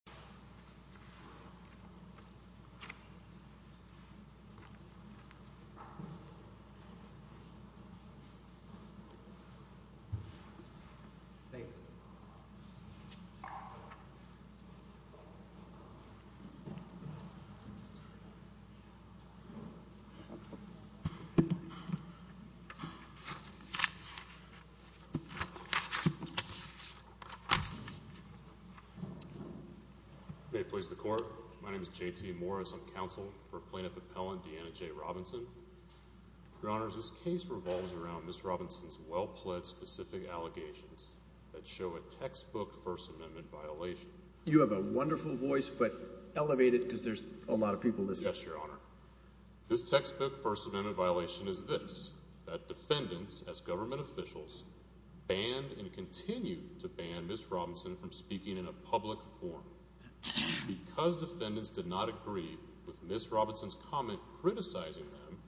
Harlan Ash tang Co. My name is J.T. Morris. I'm counsel for plaintiff appellant Deanna J. Robinson. Your Honor, this case revolves around Ms. Robinson's well-pledged specific allegations that show a textbook First Amendment violation. You have a wonderful voice, but elevate it because there's a lot of people listening. Yes, Your Honor. This textbook First Amendment violation is this, that defendants, as government officials, banned and continue to ban Ms. Robinson from speaking in a public forum because defendants did not agree with Ms. Robinson's comment criticizing them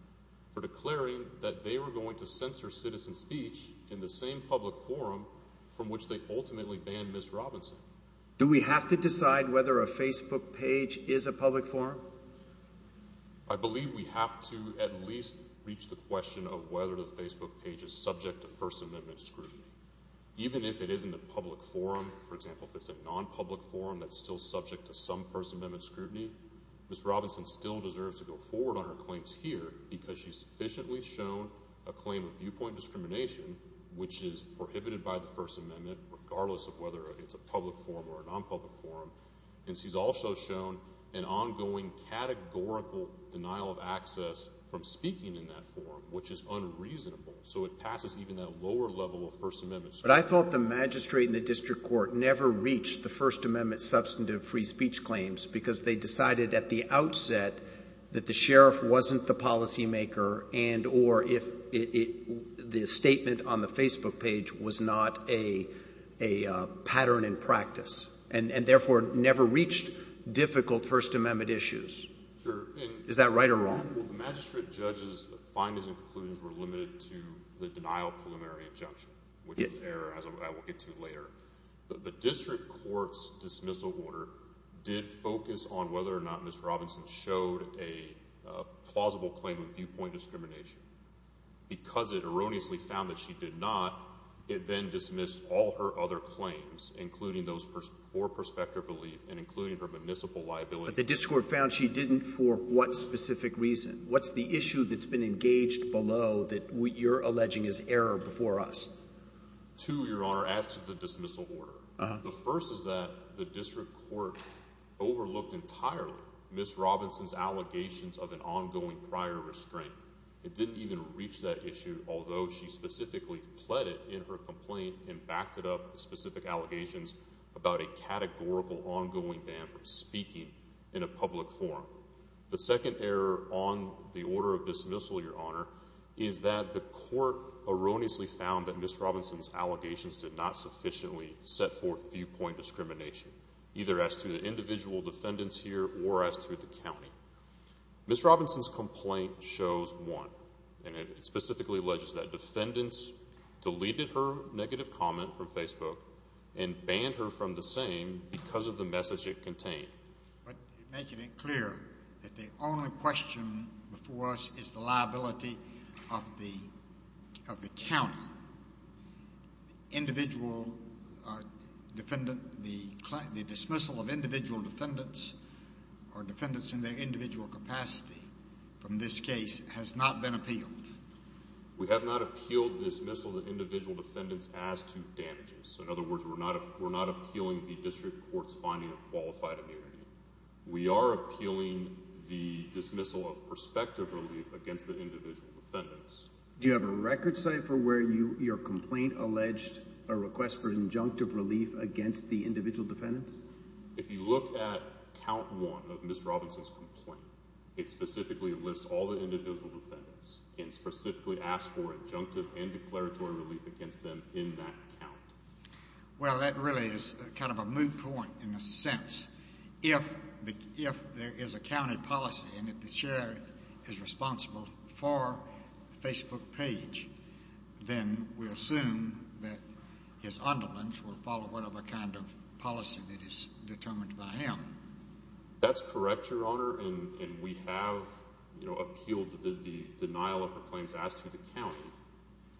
for declaring that they were going to censor citizen speech in the same public forum from which they ultimately banned Ms. Robinson. Do we have to decide whether a Facebook page is a public forum? I believe we have to at least reach the question of whether the Facebook page is subject to First Amendment scrutiny. Even if it isn't a public forum, for example, if it's a non-public forum that's still subject to some First Amendment scrutiny, Ms. Robinson still deserves to go forward on her claims here because she's sufficiently shown a claim of viewpoint discrimination, which is prohibited by the First Amendment regardless of whether it's a public forum or a non-public forum, and she's also shown an ongoing categorical denial of access from speaking in that forum, which is unreasonable. So it passes even that lower level of First Amendment scrutiny. But I thought the magistrate and the district court never reached the First Amendment substantive free speech claims because they decided at the outset that the sheriff wasn't the policymaker and or if the statement on the Facebook page was not a pattern in practice and therefore never reached difficult First Amendment issues. Sure. Is that right or wrong? Well, the magistrate judge's findings and conclusions were limited to the denial of preliminary injunction, which is an error I will get to later. The district court's dismissal order did focus on whether or not Ms. Robinson showed a plausible claim of viewpoint discrimination. Because it erroneously found that she did not, it then dismissed all her other claims, including those for prospective relief and including her municipal liability. But the district court found she didn't for what specific reason? What's the issue that's been engaged below that you're alleging is error before us? Two, Your Honor, as to the dismissal order. The first is that the district court overlooked entirely Ms. Robinson's allegations of an ongoing prior restraint. It didn't even reach that issue, although she specifically pled it in her complaint and backed it up with specific allegations about a categorical ongoing ban for speaking in a public forum. The second error on the order of dismissal, Your Honor, is that the court erroneously found that Ms. Robinson's allegations did not sufficiently set forth viewpoint discrimination, either as to the individual defendants here or as to the county. Ms. Robinson's complaint shows one, and it specifically alleges that defendants deleted her negative comment from Facebook and banned her from the same because of the message it contained. But make it clear that the only question before us is the liability of the county. Individual defendant – the dismissal of individual defendants or defendants in their individual capacity from this case has not been appealed. We have not appealed dismissal of individual defendants as to damages. In other words, we're not appealing the district court's finding of qualified immunity. We are appealing the dismissal of prospective relief against the individual defendants. Do you have a record, Cypher, where your complaint alleged a request for injunctive relief against the individual defendants? If you look at count one of Ms. Robinson's complaint, it specifically lists all the individual defendants and specifically asks for injunctive and declaratory relief against them in that count. Well, that really is kind of a moot point in a sense. If there is a county policy and if the sheriff is responsible for the Facebook page, then we assume that his underlings will follow whatever kind of policy that is determined by him. That's correct, Your Honor, and we have appealed the denial of her claims as to the county,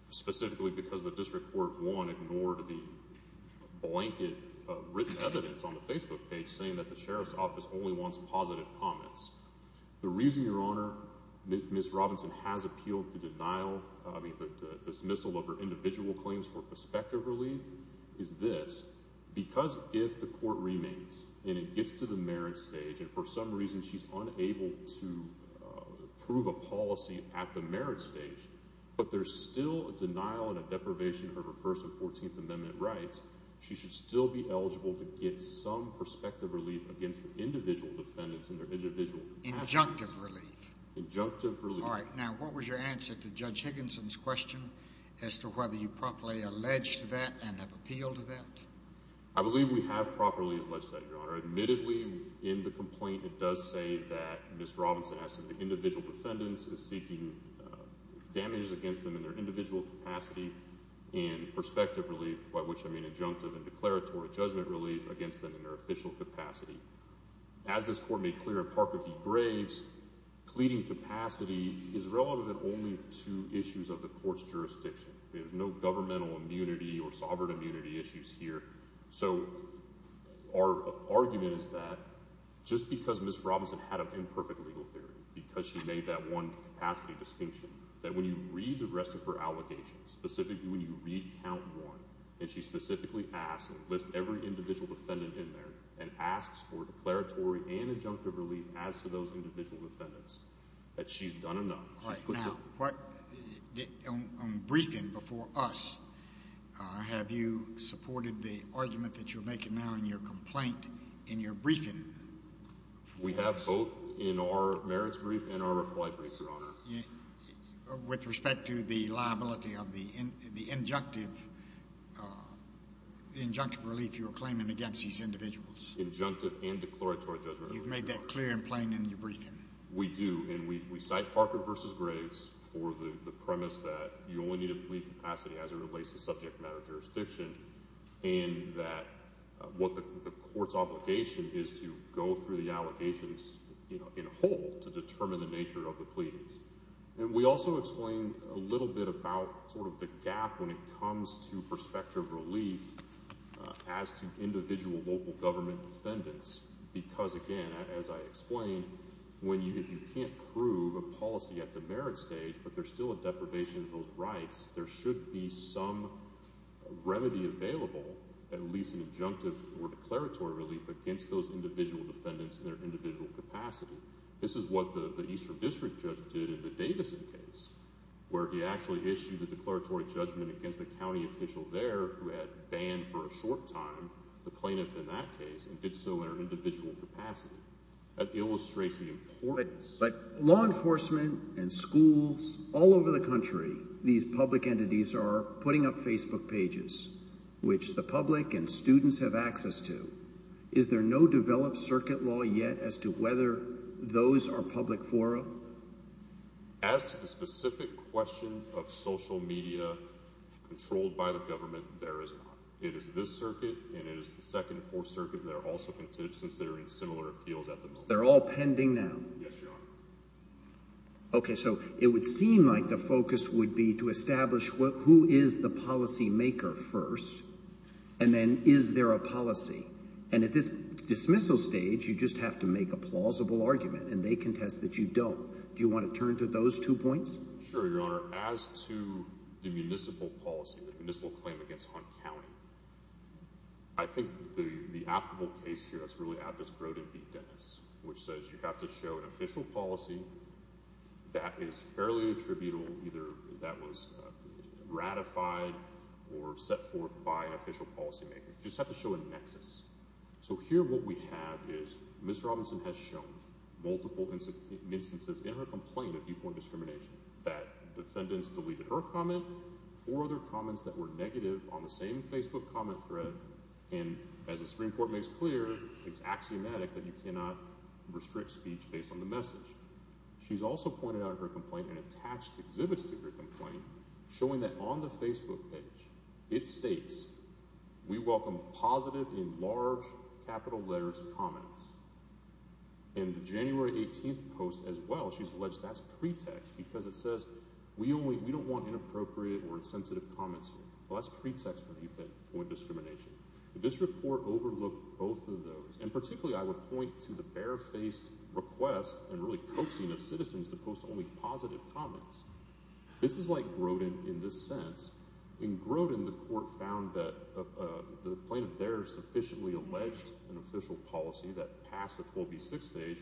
specifically because the district court, one, ignored the blanket written evidence on the Facebook page saying that the sheriff's office only wants positive comments. The reason, Your Honor, Ms. Robinson has appealed the dismissal of her individual claims for prospective relief is this. Because if the court remains and it gets to the merit stage and for some reason she's unable to prove a policy at the merit stage, but there's still a denial and a deprivation of her First and Fourteenth Amendment rights, she should still be eligible to get some prospective relief against the individual defendants in their individual capacities. Injunctive relief? Injunctive relief. All right. Now, what was your answer to Judge Higginson's question as to whether you properly alleged that and have appealed that? I believe we have properly alleged that, Your Honor. Admittedly, in the complaint it does say that Ms. Robinson has said the individual defendants is seeking damages against them in their individual capacity and prospective relief, by which I mean injunctive and declaratory judgment relief, against them in their official capacity. As this court made clear in Parker v. Braves, pleading capacity is relevant only to issues of the court's jurisdiction. There's no governmental immunity or sovereign immunity issues here. So our argument is that just because Ms. Robinson had an imperfect legal theory, because she made that one capacity distinction, that when you read the rest of her allegations, specifically when you read count one, and she specifically asks and lists every individual defendant in there and asks for declaratory and injunctive relief as to those individual defendants, that she's done enough. All right. Now, on briefing before us, have you supported the argument that you're making now in your complaint in your briefing? We have, both in our merits brief and our reply brief, Your Honor. With respect to the liability of the injunctive relief you were claiming against these individuals? Injunctive and declaratory judgment relief, Your Honor. You've made that clear and plain in your briefing? We do, and we cite Parker v. Braves for the premise that you only need a plea capacity as it relates to subject matter jurisdiction, and that what the court's obligation is to go through the allegations in whole to determine the nature of the pleadings. And we also explain a little bit about sort of the gap when it comes to prospective relief as to individual local government defendants, because, again, as I explained, if you can't prove a policy at the merit stage but there's still a deprivation of those rights, there should be some remedy available, at least an injunctive or declaratory relief, against those individual defendants in their individual capacity. This is what the Eastern District judge did in the Davison case, where he actually issued a declaratory judgment against the county official there who had banned for a short time the plaintiff in that case and did so in an individual capacity. That illustrates the importance. But law enforcement and schools all over the country, these public entities are putting up Facebook pages, which the public and students have access to. Is there no developed circuit law yet as to whether those are public forum? As to the specific question of social media controlled by the government, there is not. It is this circuit and it is the Second and Fourth Circuit that are also considering similar appeals at the moment. They're all pending now? Yes, Your Honor. Okay. So it would seem like the focus would be to establish who is the policymaker first and then is there a policy. And at this dismissal stage, you just have to make a plausible argument, and they contest that you don't. Do you want to turn to those two points? Sure, Your Honor. As to the municipal policy, the municipal claim against Hunt County, I think the applicable case here that's really applicable is Grote v. Dennis, which says you have to show an official policy that is fairly attributable, either that was ratified or set forth by an official policymaker. You just have to show a nexus. So here what we have is Ms. Robinson has shown multiple instances in her complaint of viewpoint discrimination, that defendants deleted her comment, four other comments that were negative on the same Facebook comment thread, and as the Supreme Court makes clear, it's axiomatic that you cannot restrict speech based on the message. She's also pointed out in her complaint and attached exhibits to her complaint showing that on the Facebook page it states, we welcome positive in large capital letters comments. In the January 18th post as well, she's alleged that's pretext because it says we don't want inappropriate or insensitive comments here. Well, that's pretext for viewpoint discrimination. This report overlooked both of those, and particularly I would point to the barefaced request and really coaxing of citizens to post only positive comments. This is like Grodin in this sense. In Grodin, the court found that the plaintiff there sufficiently alleged an official policy that passed the 12b6 stage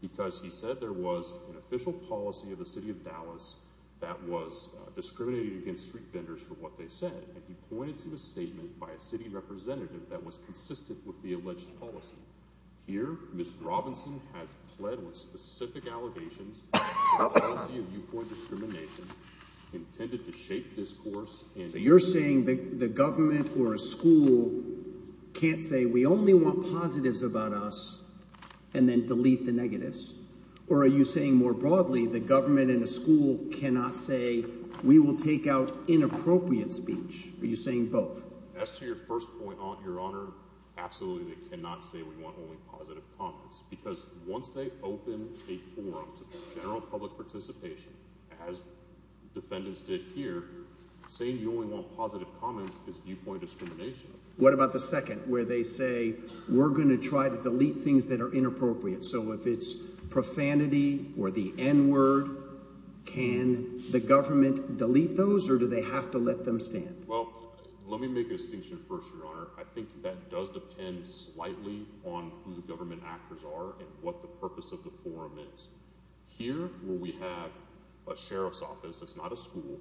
because he said there was an official policy of the city of Dallas that was discriminating against street vendors for what they said, and he pointed to a statement by a city representative that was consistent with the alleged policy. Here, Ms. Robinson has pled with specific allegations of a policy of viewpoint discrimination intended to shape discourse. So you're saying the government or a school can't say we only want positives about us and then delete the negatives? Or are you saying more broadly the government and the school cannot say we will take out inappropriate speech? Are you saying both? As to your first point, Your Honor, absolutely they cannot say we want only positive comments because once they open a forum to general public participation, as defendants did here, saying you only want positive comments is viewpoint discrimination. What about the second where they say we're going to try to delete things that are inappropriate? So if it's profanity or the N-word, can the government delete those or do they have to let them stand? Well, let me make a distinction first, Your Honor. I think that does depend slightly on who the government actors are and what the purpose of the forum is. Here where we have a sheriff's office, that's not a school,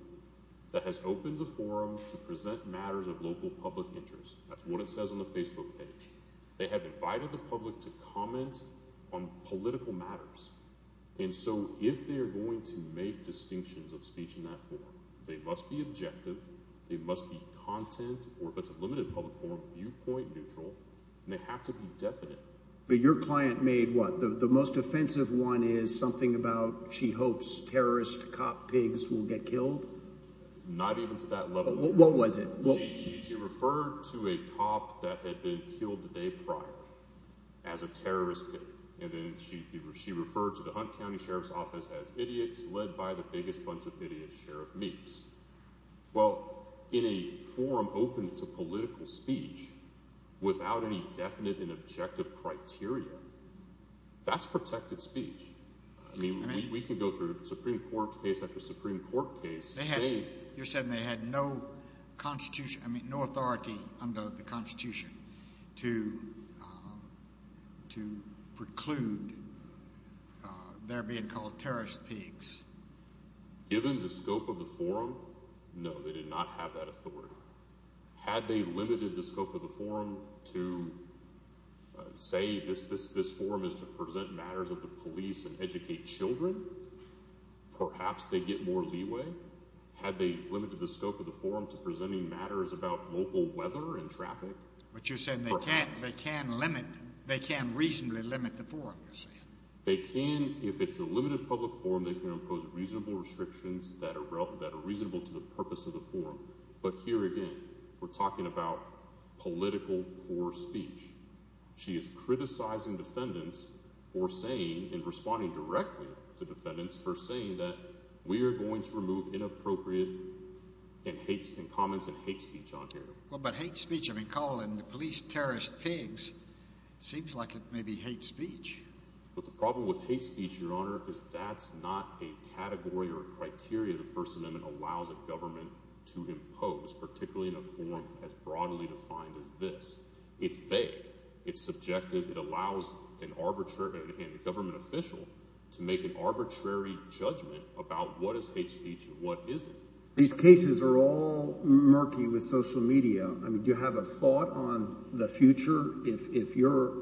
that has opened the forum to present matters of local public interest. That's what it says on the Facebook page. They have invited the public to comment on political matters. And so if they are going to make distinctions of speech in that forum, they must be objective, they must be content, or if it's a limited public forum, viewpoint neutral, and they have to be definite. But your client made what? The most offensive one is something about she hopes terrorist cop pigs will get killed? Not even to that level. What was it? She referred to a cop that had been killed the day prior as a terrorist pig. And then she referred to the Hunt County Sheriff's Office as idiots led by the biggest bunch of idiots sheriff meets. Well, in a forum open to political speech without any definite and objective criteria, that's protected speech. I mean, we could go through Supreme Court case after Supreme Court case. You're saying they had no authority under the Constitution to preclude their being called terrorist pigs? Given the scope of the forum, no, they did not have that authority. Had they limited the scope of the forum to say this forum is to present matters of the police and educate children, perhaps they'd get more leeway. Had they limited the scope of the forum to presenting matters about local weather and traffic? But you're saying they can't limit, they can't reasonably limit the forum, you're saying? They can, if it's a limited public forum, they can impose reasonable restrictions that are reasonable to the purpose of the forum. But here again, we're talking about political poor speech. She is criticizing defendants for saying, and responding directly to defendants, for saying that we are going to remove inappropriate comments and hate speech on here. Well, but hate speech, I mean, calling the police terrorist pigs seems like it may be hate speech. But the problem with hate speech, Your Honor, is that's not a category or a criteria the First Amendment allows a government to impose, particularly in a forum as broadly defined as this. It's vague. It's subjective. It allows a government official to make an arbitrary judgment about what is hate speech and what isn't. These cases are all murky with social media. Do you have a thought on the future? If your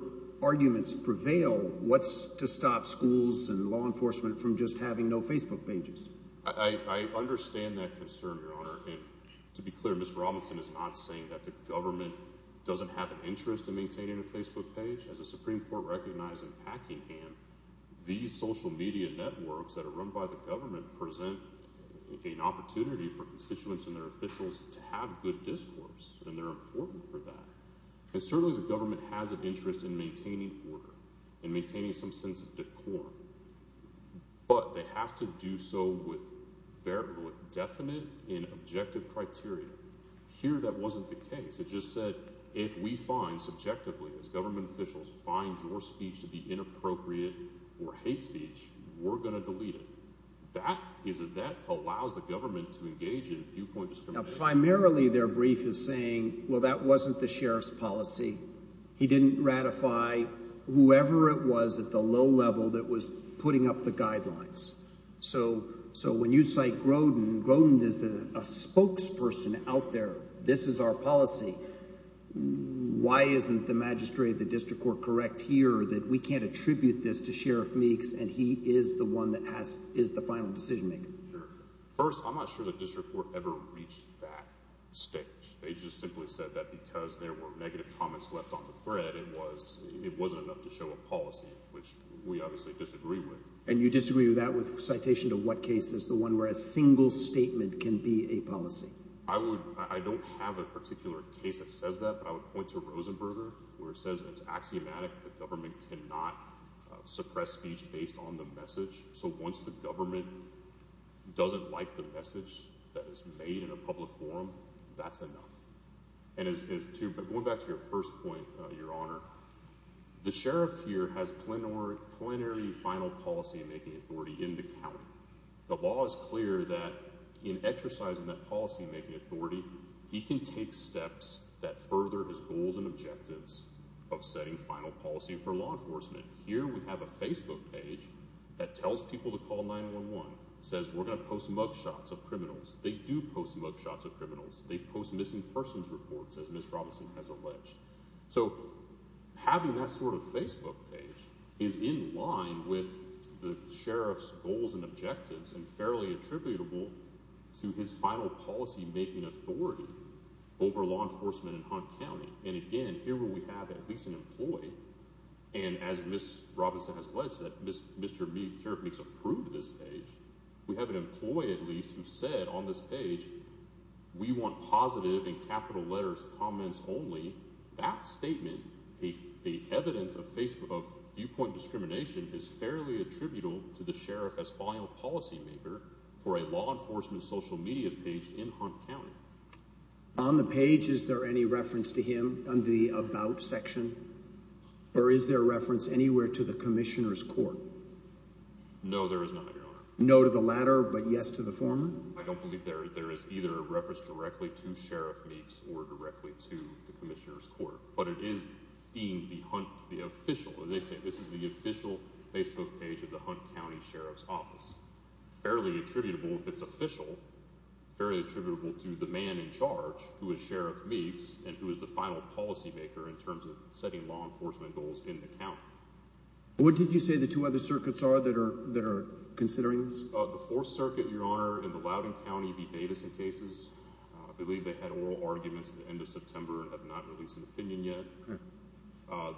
arguments prevail, what's to stop schools and law enforcement from just having no Facebook pages? I understand that concern, Your Honor. And to be clear, Ms. Robinson is not saying that the government doesn't have an interest in maintaining a Facebook page. As the Supreme Court recognized in Packingham, these social media networks that are run by the government present an opportunity for constituents and their officials to have good discourse, and they're important for that. And certainly the government has an interest in maintaining order and maintaining some sense of decor. But they have to do so with definite and objective criteria. Here that wasn't the case. It just said if we find subjectively as government officials find your speech to be inappropriate or hate speech, we're going to delete it. That allows the government to engage in viewpoint discrimination. Primarily their brief is saying, well, that wasn't the sheriff's policy. He didn't ratify whoever it was at the low level that was putting up the guidelines. So when you cite Grodin, Grodin is a spokesperson out there. This is our policy. Why isn't the magistrate of the district court correct here that we can't attribute this to Sheriff Meeks and he is the one that is the final decision maker? First, I'm not sure the district court ever reached that stage. They just simply said that because there were negative comments left on the thread, it was it wasn't enough to show a policy, which we obviously disagree with. And you disagree with that with citation to what case is the one where a single statement can be a policy? I would I don't have a particular case that says that, but I would point to Rosenberger, where it says it's axiomatic. The government cannot suppress speech based on the message. So once the government doesn't like the message that is made in a public forum, that's enough. And as to go back to your first point, your honor, the sheriff here has plenary plenary final policymaking authority in the county. The law is clear that in exercising that policymaking authority, he can take steps that further his goals and objectives of setting final policy for law enforcement. Here we have a Facebook page that tells people to call 911, says we're going to post mugshots of criminals. They do post mugshots of criminals. They post missing persons reports, as Miss Robinson has alleged. So having that sort of Facebook page is in line with the sheriff's goals and objectives and fairly attributable to his final policymaking authority over law enforcement in Hunt County. And again, here we have at least an employee. And as Miss Robinson has alleged that Mr. Meek's approved this page, we have an employee, at least, who said on this page, we want positive and capital letters, comments only that statement. The evidence of Facebook of viewpoint discrimination is fairly attributable to the sheriff as final policymaker for a law enforcement social media page in Hunt County. On the page, is there any reference to him on the about section? Or is there a reference anywhere to the commissioner's court? No, there is not. No to the latter, but yes to the former. I don't believe there is either a reference directly to Sheriff Meek's or directly to the commissioner's court, but it is deemed the Hunt, the official. This is the official Facebook page of the Hunt County Sheriff's Office. Fairly attributable, if it's official, fairly attributable to the man in charge, who is Sheriff Meek's, and who is the final policymaker in terms of setting law enforcement goals in the county. What did you say the two other circuits are that are considering this? The Fourth Circuit, Your Honor, in the Loudoun County v. Davidson cases, I believe they had oral arguments at the end of September and have not released an opinion yet.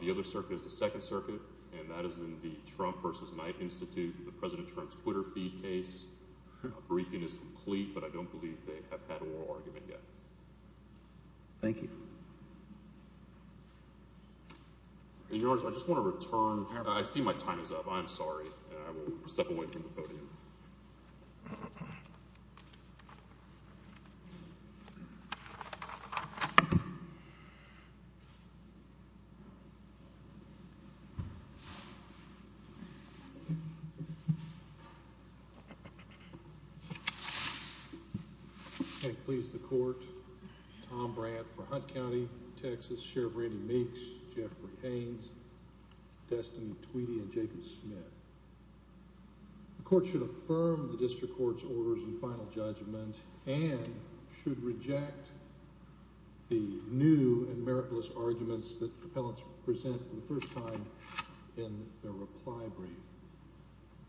The other circuit is the Second Circuit, and that is in the Trump v. Knight Institute, the President Trump's Twitter feed case. A briefing is complete, but I don't believe they have had an oral argument yet. Thank you. Your Honor, I just want to return – I see my time is up. I am sorry, and I will step away from the podium. Thank you. I please the court, Tom Brandt for Hunt County, Texas, Sheriff Randy Meeks, Jeffrey Haines, Destiny Tweedy, and Jacob Smith. The court should affirm the district court's orders and final judgment and should reject the new and miraculous arguments that the appellants present for the first time in their reply brief.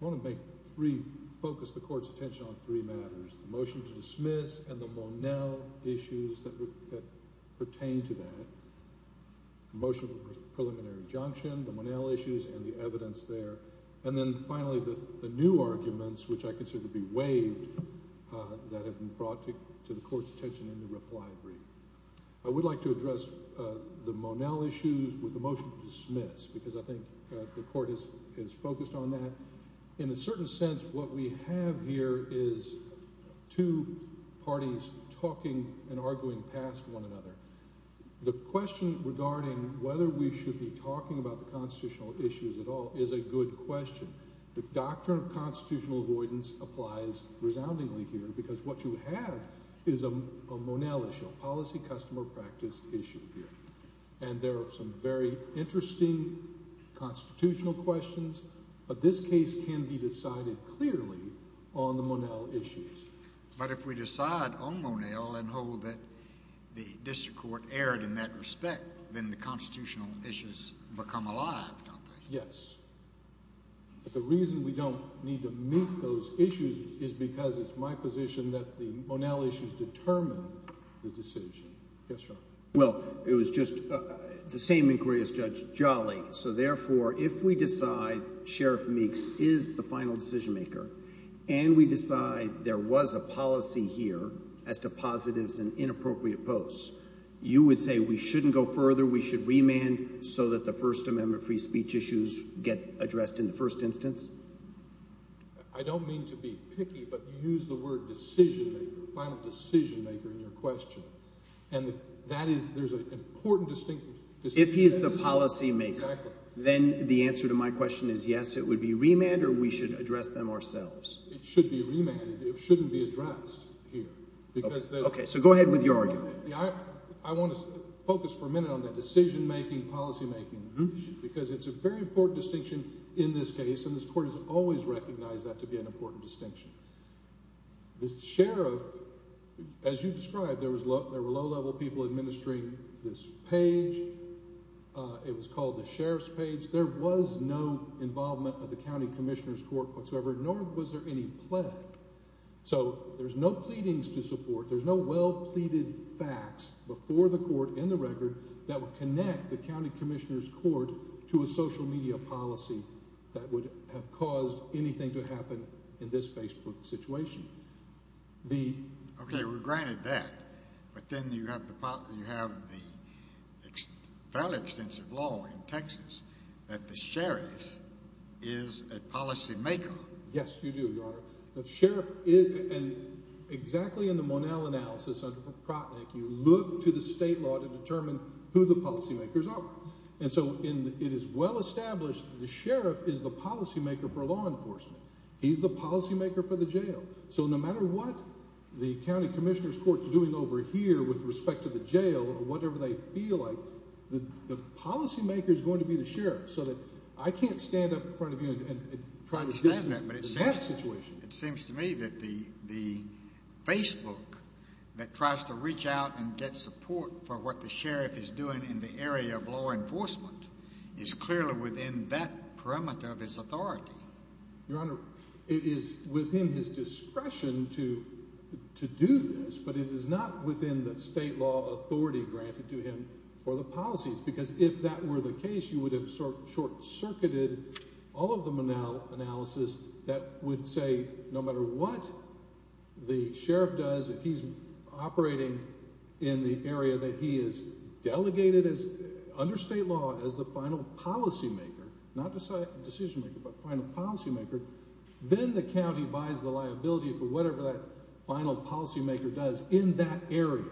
I want to make three – focus the court's attention on three matters, the motion to dismiss and the Monell issues that pertain to that, the motion for preliminary injunction, the Monell issues, and the evidence there. And then finally, the new arguments, which I consider to be waived, that have been brought to the court's attention in the reply brief. I would like to address the Monell issues with the motion to dismiss, because I think the court is focused on that. In a certain sense, what we have here is two parties talking and arguing past one another. The question regarding whether we should be talking about the constitutional issues at all is a good question. The doctrine of constitutional avoidance applies resoundingly here, because what you have is a Monell issue, a policy-customer practice issue here. And there are some very interesting constitutional questions, but this case can be decided clearly on the Monell issues. But if we decide on Monell and hold that the district court erred in that respect, then the constitutional issues become alive, don't they? Yes. But the reason we don't need to meet those issues is because it's my position that the Monell issues determine the decision. Yes, Your Honor. Well, it was just the same inquiry as Judge Jolly. So, therefore, if we decide Sheriff Meeks is the final decision-maker and we decide there was a policy here as to positives and inappropriate posts, you would say we shouldn't go further, we should remand so that the First Amendment free speech issues get addressed in the first instance? I don't mean to be picky, but you used the word decision-maker, final decision-maker, in your question. And that is – there's an important distinction. If he's the policy-maker, then the answer to my question is yes, it would be remanded or we should address them ourselves? It should be remanded. It shouldn't be addressed here. Okay. So go ahead with your argument. I want to focus for a minute on the decision-making, policy-making, because it's a very important distinction in this case, and this Court has always recognized that to be an important distinction. The sheriff – as you described, there were low-level people administering this page. It was called the sheriff's page. There was no involvement of the county commissioner's court whatsoever, nor was there any plague. So there's no pleadings to support, there's no well-pleaded facts before the court in the record that would connect the county commissioner's court to a social media policy that would have caused anything to happen in this Facebook situation. Okay, we're granted that, but then you have the fairly extensive law in Texas that the sheriff is a policy-maker. Yes, you do, Your Honor. The sheriff is – and exactly in the Monell analysis under Protnick, you look to the state law to determine who the policy-makers are. And so it is well-established that the sheriff is the policy-maker for law enforcement. He's the policy-maker for the jail. So no matter what the county commissioner's court is doing over here with respect to the jail or whatever they feel like, the policy-maker is going to be the sheriff. So that I can't stand up in front of you and try to – I understand that, but it seems to me that the Facebook that tries to reach out and get support for what the sheriff is doing in the area of law enforcement is clearly within that perimeter of his authority. Your Honor, it is within his discretion to do this, but it is not within the state law authority granted to him for the policies, because if that were the case, you would have short-circuited all of the Monell analysis that would say no matter what the sheriff does, if he's operating in the area that he has delegated under state law as the final policy-maker – not decision-maker, but final policy-maker – then the county buys the liability for whatever that final policy-maker does in that area.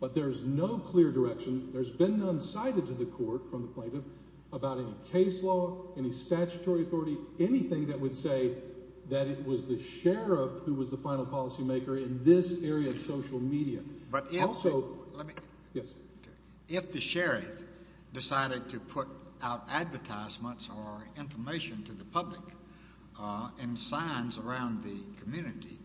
But there's no clear direction. There's been none cited to the court from the plaintiff about any case law, any statutory authority, or anything that would say that it was the sheriff who was the final policy-maker in this area of social media. But if the sheriff decided to put out advertisements or information to the public and signs around the community,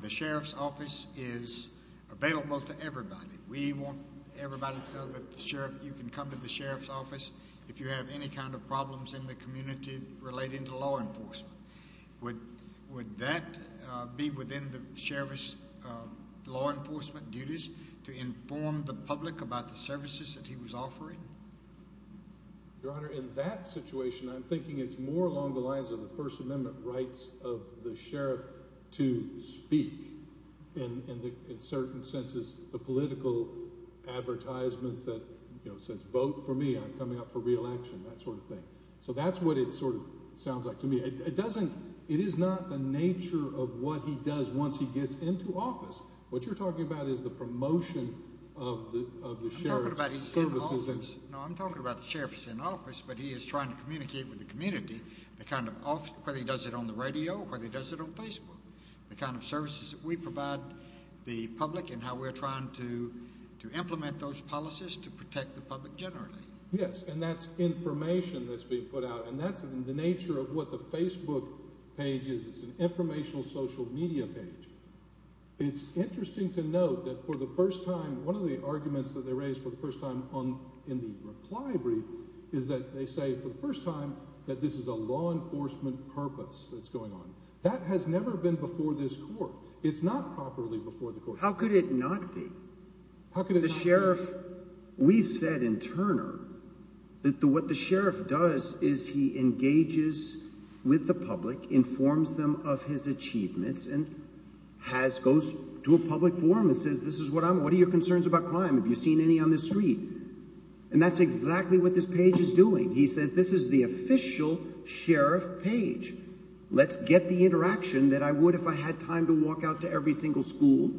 the sheriff's office is available to everybody. We want everybody to know that you can come to the sheriff's office if you have any kind of problems in the community relating to law enforcement. Would that be within the sheriff's law enforcement duties to inform the public about the services that he was offering? Your Honor, in that situation, I'm thinking it's more along the lines of the First Amendment rights of the sheriff to speak. In certain senses, the political advertisements that says, vote for me, I'm coming up for re-election, that sort of thing. So that's what it sort of sounds like to me. It is not the nature of what he does once he gets into office. What you're talking about is the promotion of the sheriff's services. No, I'm talking about the sheriff is in office, but he is trying to communicate with the community whether he does it on the radio, whether he does it on Facebook, the kind of services that we provide the public and how we're trying to implement those policies to protect the public generally. Yes, and that's information that's being put out, and that's the nature of what the Facebook page is. It's an informational social media page. It's interesting to note that for the first time, one of the arguments that they raised for the first time in the reply brief is that they say for the first time that this is a law enforcement purpose that's going on. That has never been before this court. It's not properly before the court. How could it not be? How could it not be? The sheriff – we've said in Turner that what the sheriff does is he engages with the public, informs them of his achievements, and has – goes to a public forum and says, this is what I'm – what are your concerns about crime? Have you seen any on the street? And that's exactly what this page is doing. He says this is the official sheriff page. Let's get the interaction that I would if I had time to walk out to every single school.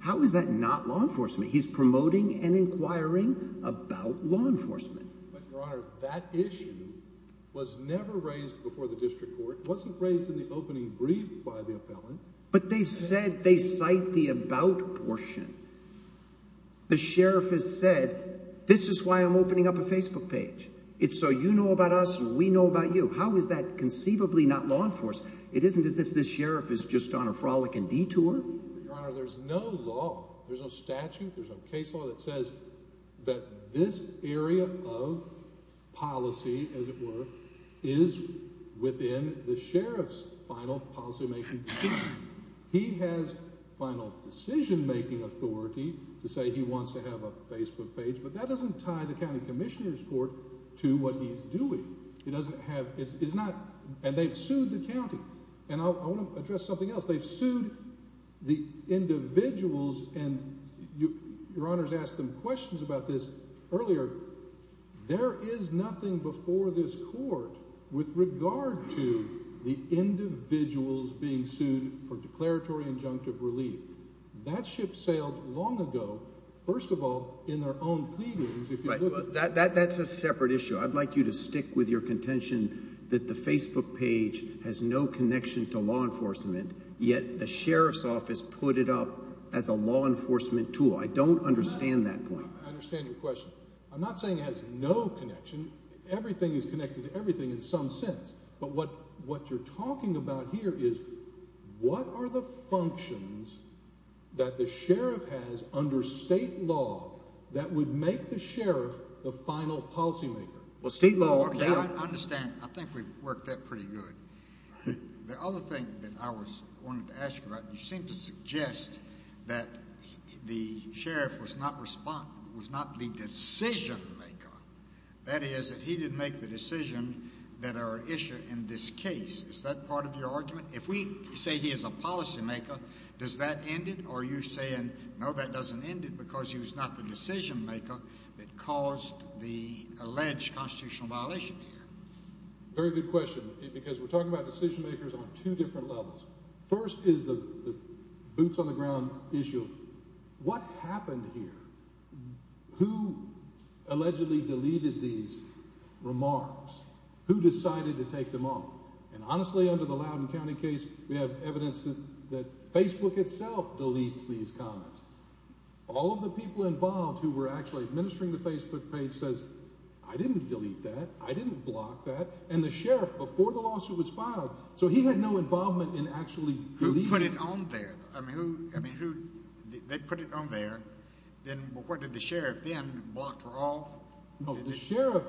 How is that not law enforcement? He's promoting and inquiring about law enforcement. But, Your Honor, that issue was never raised before the district court. It wasn't raised in the opening brief by the appellant. But they've said they cite the about portion. The sheriff has said, this is why I'm opening up a Facebook page. It's so you know about us and we know about you. How is that conceivably not law enforcement? It isn't as if the sheriff is just on a frolicking detour. Your Honor, there's no law, there's no statute, there's no case law that says that this area of policy, as it were, is within the sheriff's final policymaking. He has final decisionmaking authority to say he wants to have a Facebook page. But that doesn't tie the county commissioner's court to what he's doing. It doesn't have, it's not, and they've sued the county. And I want to address something else. They've sued the individuals and Your Honor's asked them questions about this earlier. There is nothing before this court with regard to the individuals being sued for declaratory injunctive relief. That ship sailed long ago, first of all, in their own pleadings. That's a separate issue. I'd like you to stick with your contention that the Facebook page has no connection to law enforcement, yet the sheriff's office put it up as a law enforcement tool. I don't understand that point. I understand your question. I'm not saying it has no connection. Everything is connected to everything in some sense. But what you're talking about here is what are the functions that the sheriff has under state law that would make the sheriff the final policymaker? Well, state law. I understand. I think we've worked that pretty good. The other thing that I was wanting to ask you about, you seem to suggest that the sheriff was not the decisionmaker. That is, that he didn't make the decision that our issue in this case. Is that part of your argument? If we say he is a policymaker, does that end it? Or are you saying, no, that doesn't end it because he was not the decisionmaker that caused the alleged constitutional violation here? Very good question. Because we're talking about decisionmakers on two different levels. First is the boots on the ground issue. What happened here? Who allegedly deleted these remarks? Who decided to take them off? And honestly, under the Loudoun County case, we have evidence that Facebook itself deletes these comments. All of the people involved who were actually administering the Facebook page says, I didn't delete that. I didn't block that. And the sheriff, before the lawsuit was filed, so he had no involvement in actually deleting it. Who put it on there? I mean, who – they put it on there. Then what, did the sheriff then block for all? No, the sheriff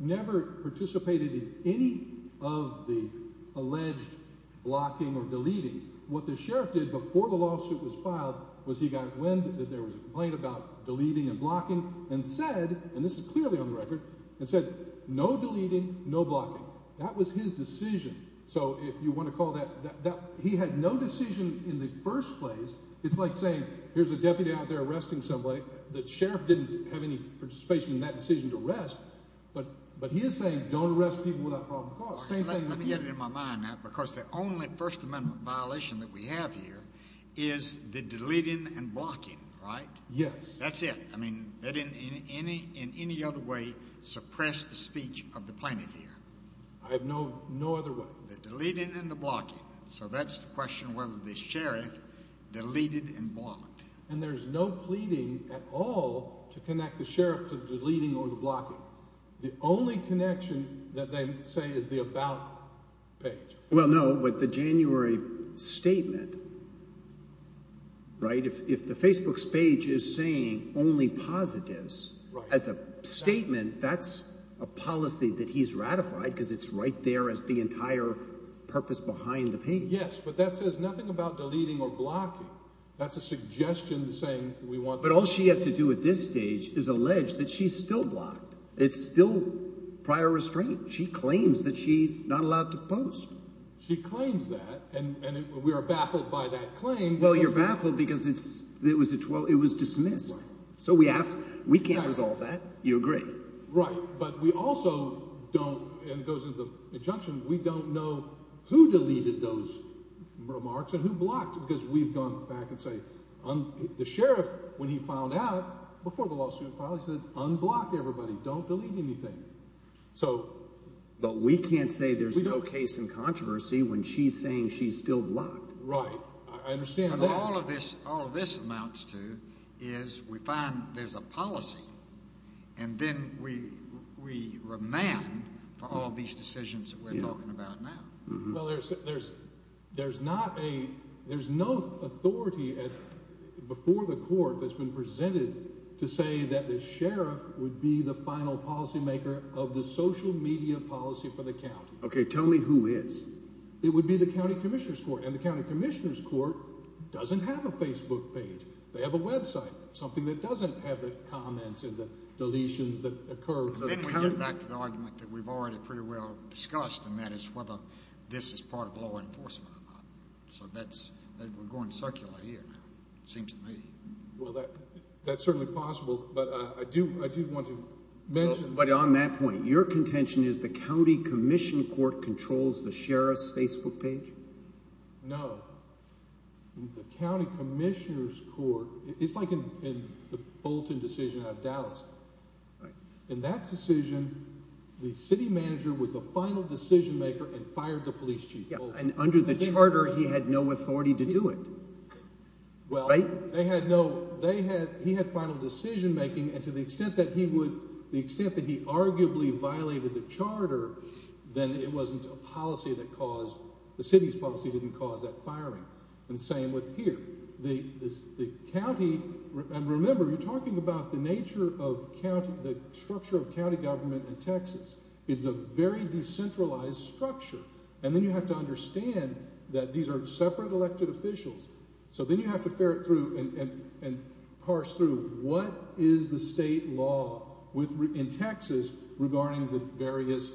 never participated in any of the alleged blocking or deleting. What the sheriff did before the lawsuit was filed was he got wind that there was a complaint about deleting and blocking and said, and this is clearly on the record, and said no deleting, no blocking. That was his decision. So if you want to call that – he had no decision in the first place. It's like saying here's a deputy out there arresting somebody. The sheriff didn't have any participation in that decision to arrest. But he is saying don't arrest people without probable cause. Let me get it in my mind now because the only First Amendment violation that we have here is the deleting and blocking, right? Yes. That's it. I mean, they didn't in any other way suppress the speech of the plaintiff here. I have no other way. The deleting and the blocking. So that's the question whether the sheriff deleted and blocked. And there's no pleading at all to connect the sheriff to the deleting or the blocking. The only connection that they say is the about page. Well, no, but the January statement, right? If the Facebook page is saying only positives as a statement, that's a policy that he's ratified because it's right there as the entire purpose behind the page. Yes, but that says nothing about deleting or blocking. That's a suggestion saying we want – But all she has to do at this stage is allege that she's still blocked. It's still prior restraint. She claims that she's not allowed to post. She claims that, and we are baffled by that claim. Well, you're baffled because it was dismissed. So we have to – we can't resolve that. You agree. Right, but we also don't – and it goes into the injunction – we don't know who deleted those remarks and who blocked because we've gone back and say – The sheriff, when he filed out, before the lawsuit filed, he said unblock everybody. Don't delete anything. So – But we can't say there's no case in controversy when she's saying she's still blocked. Right. I understand that. All of this amounts to is we find there's a policy, and then we remand for all these decisions that we're talking about now. Well, there's not a – there's no authority before the court that's been presented to say that the sheriff would be the final policymaker of the social media policy for the county. Okay, tell me who is. It would be the county commissioner's court, and the county commissioner's court doesn't have a Facebook page. They have a website, something that doesn't have the comments and the deletions that occur. And then we get back to the argument that we've already pretty well discussed, and that is whether this is part of law enforcement or not. So that's – we're going circular here now, it seems to me. Well, that's certainly possible, but I do want to mention – But on that point, your contention is the county commission court controls the sheriff's Facebook page? No. The county commissioner's court – it's like in the Bolton decision out of Dallas. In that decision, the city manager was the final decision maker and fired the police chief. Yeah, and under the charter he had no authority to do it. Right? They had no – he had final decision making, and to the extent that he would – the extent that he arguably violated the charter, then it wasn't a policy that caused – the city's policy didn't cause that firing. And same with here. The county – and remember, you're talking about the nature of county – the structure of county government in Texas. It's a very decentralized structure, and then you have to understand that these are separate elected officials. So then you have to ferret through and parse through what is the state law in Texas regarding the various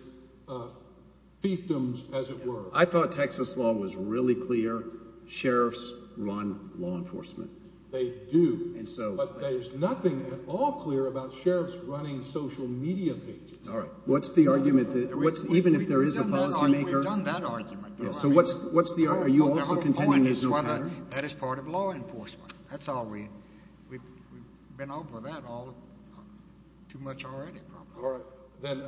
fiefdoms, as it were. I thought Texas law was really clear. Sheriffs run law enforcement. They do. And so – But there's nothing at all clear about sheriffs running social media pages. All right. What's the argument – even if there is a policymaker – We've done that argument. So what's the – are you also contending there's no pattern? That is part of law enforcement. That's all we – we've been over that all too much already probably. All right. Then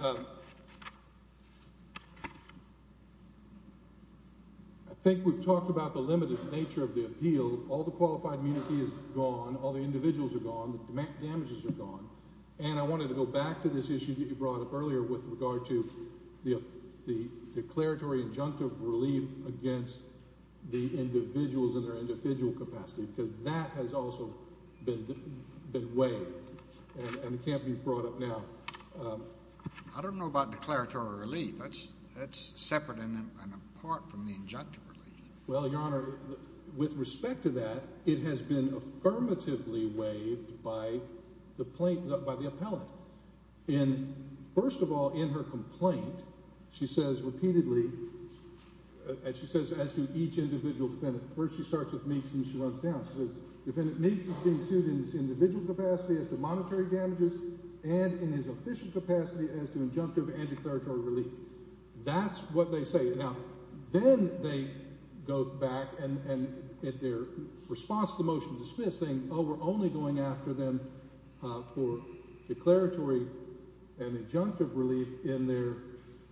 I think we've talked about the limited nature of the appeal. All the qualified immunity is gone. All the individuals are gone. The damages are gone. And I wanted to go back to this issue that you brought up earlier with regard to the declaratory injunctive relief against the individuals in their individual capacity because that has also been waived, and it can't be brought up now. I don't know about declaratory relief. That's separate and apart from the injunctive relief. Well, Your Honor, with respect to that, it has been affirmatively waived by the plaintiff – by the appellant. And first of all, in her complaint, she says repeatedly – and she says as to each individual defendant. First she starts with Meeks and then she runs down. She says, Defendant Meeks is being sued in his individual capacity as to monetary damages and in his official capacity as to injunctive and declaratory relief. That's what they say. Now, then they go back, and in their response to the motion to dismiss, saying, oh, we're only going after them for declaratory and injunctive relief in their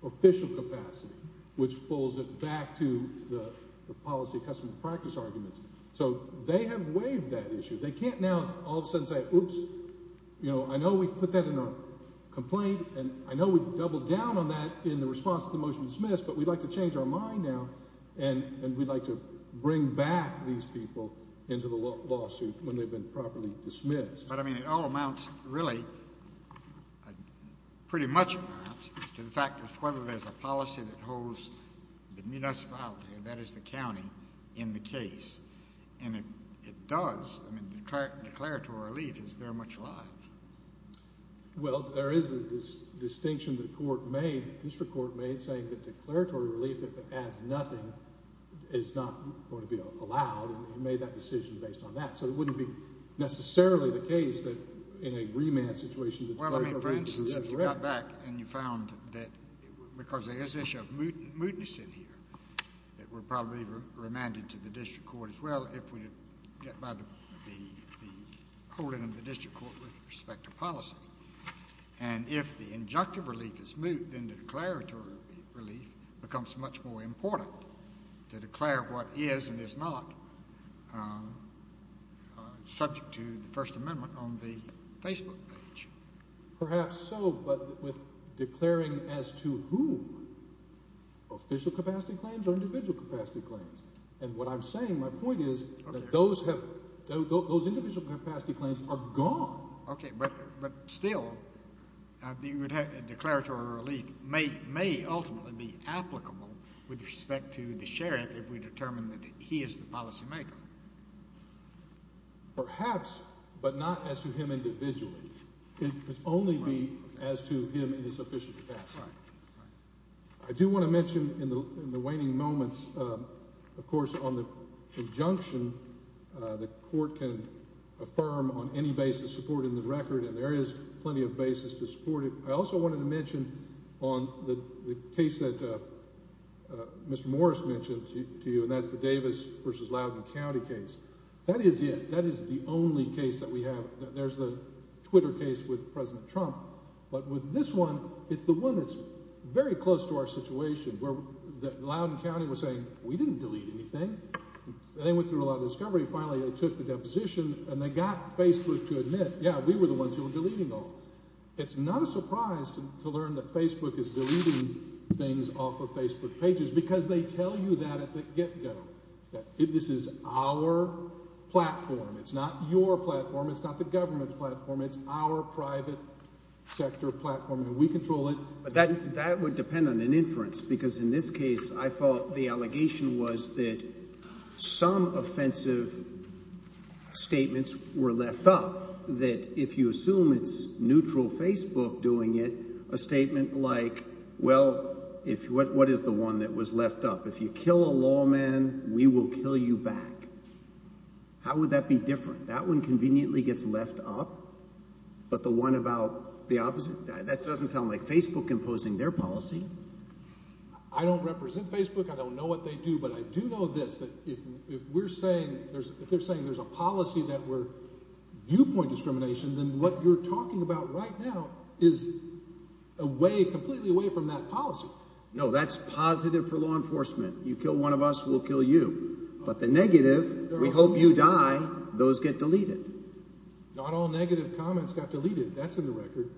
official capacity, which pulls it back to the policy-customs-practice arguments. So they have waived that issue. They can't now all of a sudden say, oops, I know we put that in our complaint, and I know we doubled down on that in the response to the motion to dismiss, but we'd like to change our mind now, and we'd like to bring back these people into the lawsuit when they've been properly dismissed. But, I mean, it all amounts really pretty much, perhaps, to the fact of whether there's a policy that holds the municipality, and that is the county, in the case. And it does. I mean, declaratory relief is very much alive. Well, there is a distinction the court made, district court made, saying that declaratory relief, if it adds nothing, is not going to be allowed, and made that decision based on that. So it wouldn't be necessarily the case that in a remand situation, the declaratory relief is as well. Well, I mean, for instance, if you got back and you found that because there is this issue of mootness in here, it would probably be remanded to the district court as well if we get by the holding of the district court with respect to policy. And if the injunctive relief is moot, then the declaratory relief becomes much more important to declare what is and is not subject to the First Amendment on the Facebook page. Perhaps so, but with declaring as to whom, official capacity claims or individual capacity claims? And what I'm saying, my point is that those individual capacity claims are gone. Okay. But still, the declaratory relief may ultimately be applicable with respect to the sheriff if we determine that he is the policymaker. Perhaps, but not as to him individually. It could only be as to him in his official capacity. Right. I do want to mention in the waning moments, of course, on the injunction the court can affirm on any basis supporting the record, and there is plenty of basis to support it. I also wanted to mention on the case that Mr. Morris mentioned to you, and that's the Davis v. Loudoun County case. That is it. That is the only case that we have. There's the Twitter case with President Trump. But with this one, it's the one that's very close to our situation where Loudoun County was saying, we didn't delete anything. They went through a lot of discovery. Finally, they took the deposition, and they got Facebook to admit, yeah, we were the ones who were deleting all. It's not a surprise to learn that Facebook is deleting things off of Facebook pages because they tell you that at the get-go. This is our platform. It's not your platform. It's not the government's platform. It's our private sector platform, and we control it. But that would depend on an inference because in this case I thought the allegation was that some offensive statements were left up. That if you assume it's neutral Facebook doing it, a statement like, well, what is the one that was left up? If you kill a lawman, we will kill you back. How would that be different? That one conveniently gets left up, but the one about the opposite? That doesn't sound like Facebook imposing their policy. I don't represent Facebook. I don't know what they do, but I do know this, that if we're saying – if they're saying there's a policy that we're viewpoint discrimination, then what you're talking about right now is away – completely away from that policy. No, that's positive for law enforcement. You kill one of us, we'll kill you. But the negative, we hope you die, those get deleted. Not all negative comments got deleted. That's in the record.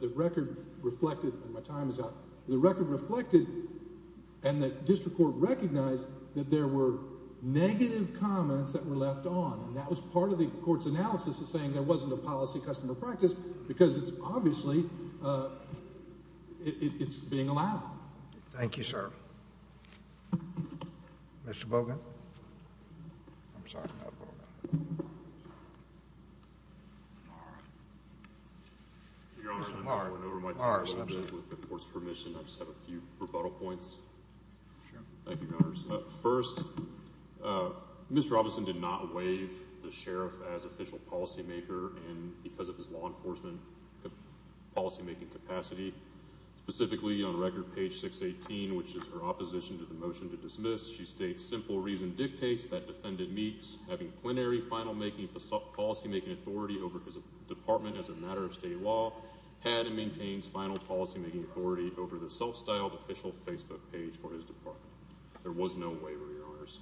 The record reflected – my time is up. The record reflected and the district court recognized that there were negative comments that were left on, and that was part of the court's analysis of saying there wasn't a policy customer practice because it's obviously – it's being allowed. Thank you, sir. Mr. Bogan. I'm sorry, not Bogan. Mars. Your Honor, I'm going to run over my time a little bit with the court's permission. I just have a few rebuttal points. Sure. Thank you, Your Honor. First, Mr. Robinson did not waive the sheriff as official policymaker because of his law enforcement policymaking capacity. Specifically, on record, page 618, which is her opposition to the motion to dismiss, she states, simple reason dictates that defendant meets having plenary final policymaking authority over his department as a matter of state law, had and maintains final policymaking authority over the self-styled official Facebook page for his department. There was no waiver, Your Honors.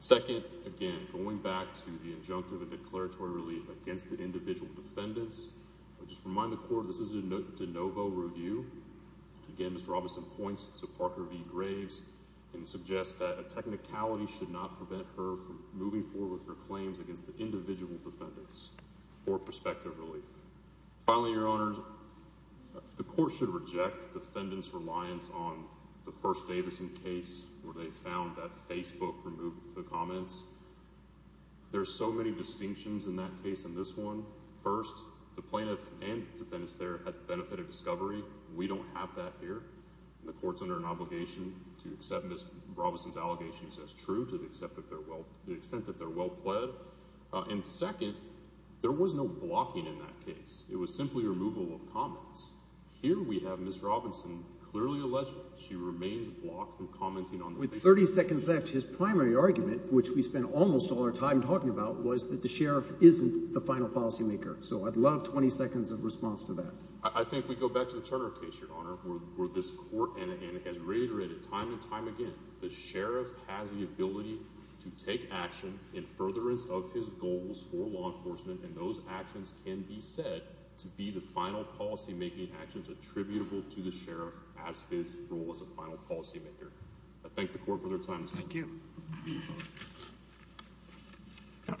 Second, again, going back to the injunctive and declaratory relief against the individual defendants, I just remind the court this is a de novo review. Again, Mr. Robinson points to Parker v. Graves and suggests that a technicality should not prevent her from moving forward with her claims against the individual defendants for prospective relief. Finally, Your Honors, the court should reject defendant's reliance on the first Davison case where they found that Facebook removed the comments. There are so many distinctions in that case and this one. First, the plaintiff and the defendants there had the benefit of discovery. We don't have that here. The court's under an obligation to accept Ms. Robinson's allegations as true to the extent that they're well pled. And second, there was no blocking in that case. It was simply removal of comments. Here we have Ms. Robinson clearly alleged she remains blocked from commenting on Facebook. 30 seconds left. His primary argument, which we spent almost all our time talking about, was that the sheriff isn't the final policymaker. So I'd love 20 seconds of response to that. I think we go back to the Turner case, Your Honor, where this court has reiterated time and time again the sheriff has the ability to take action in furtherance of his goals for law enforcement. And those actions can be said to be the final policymaking actions attributable to the sheriff as his role as a final policymaker. I thank the court for their time this morning. Thank you.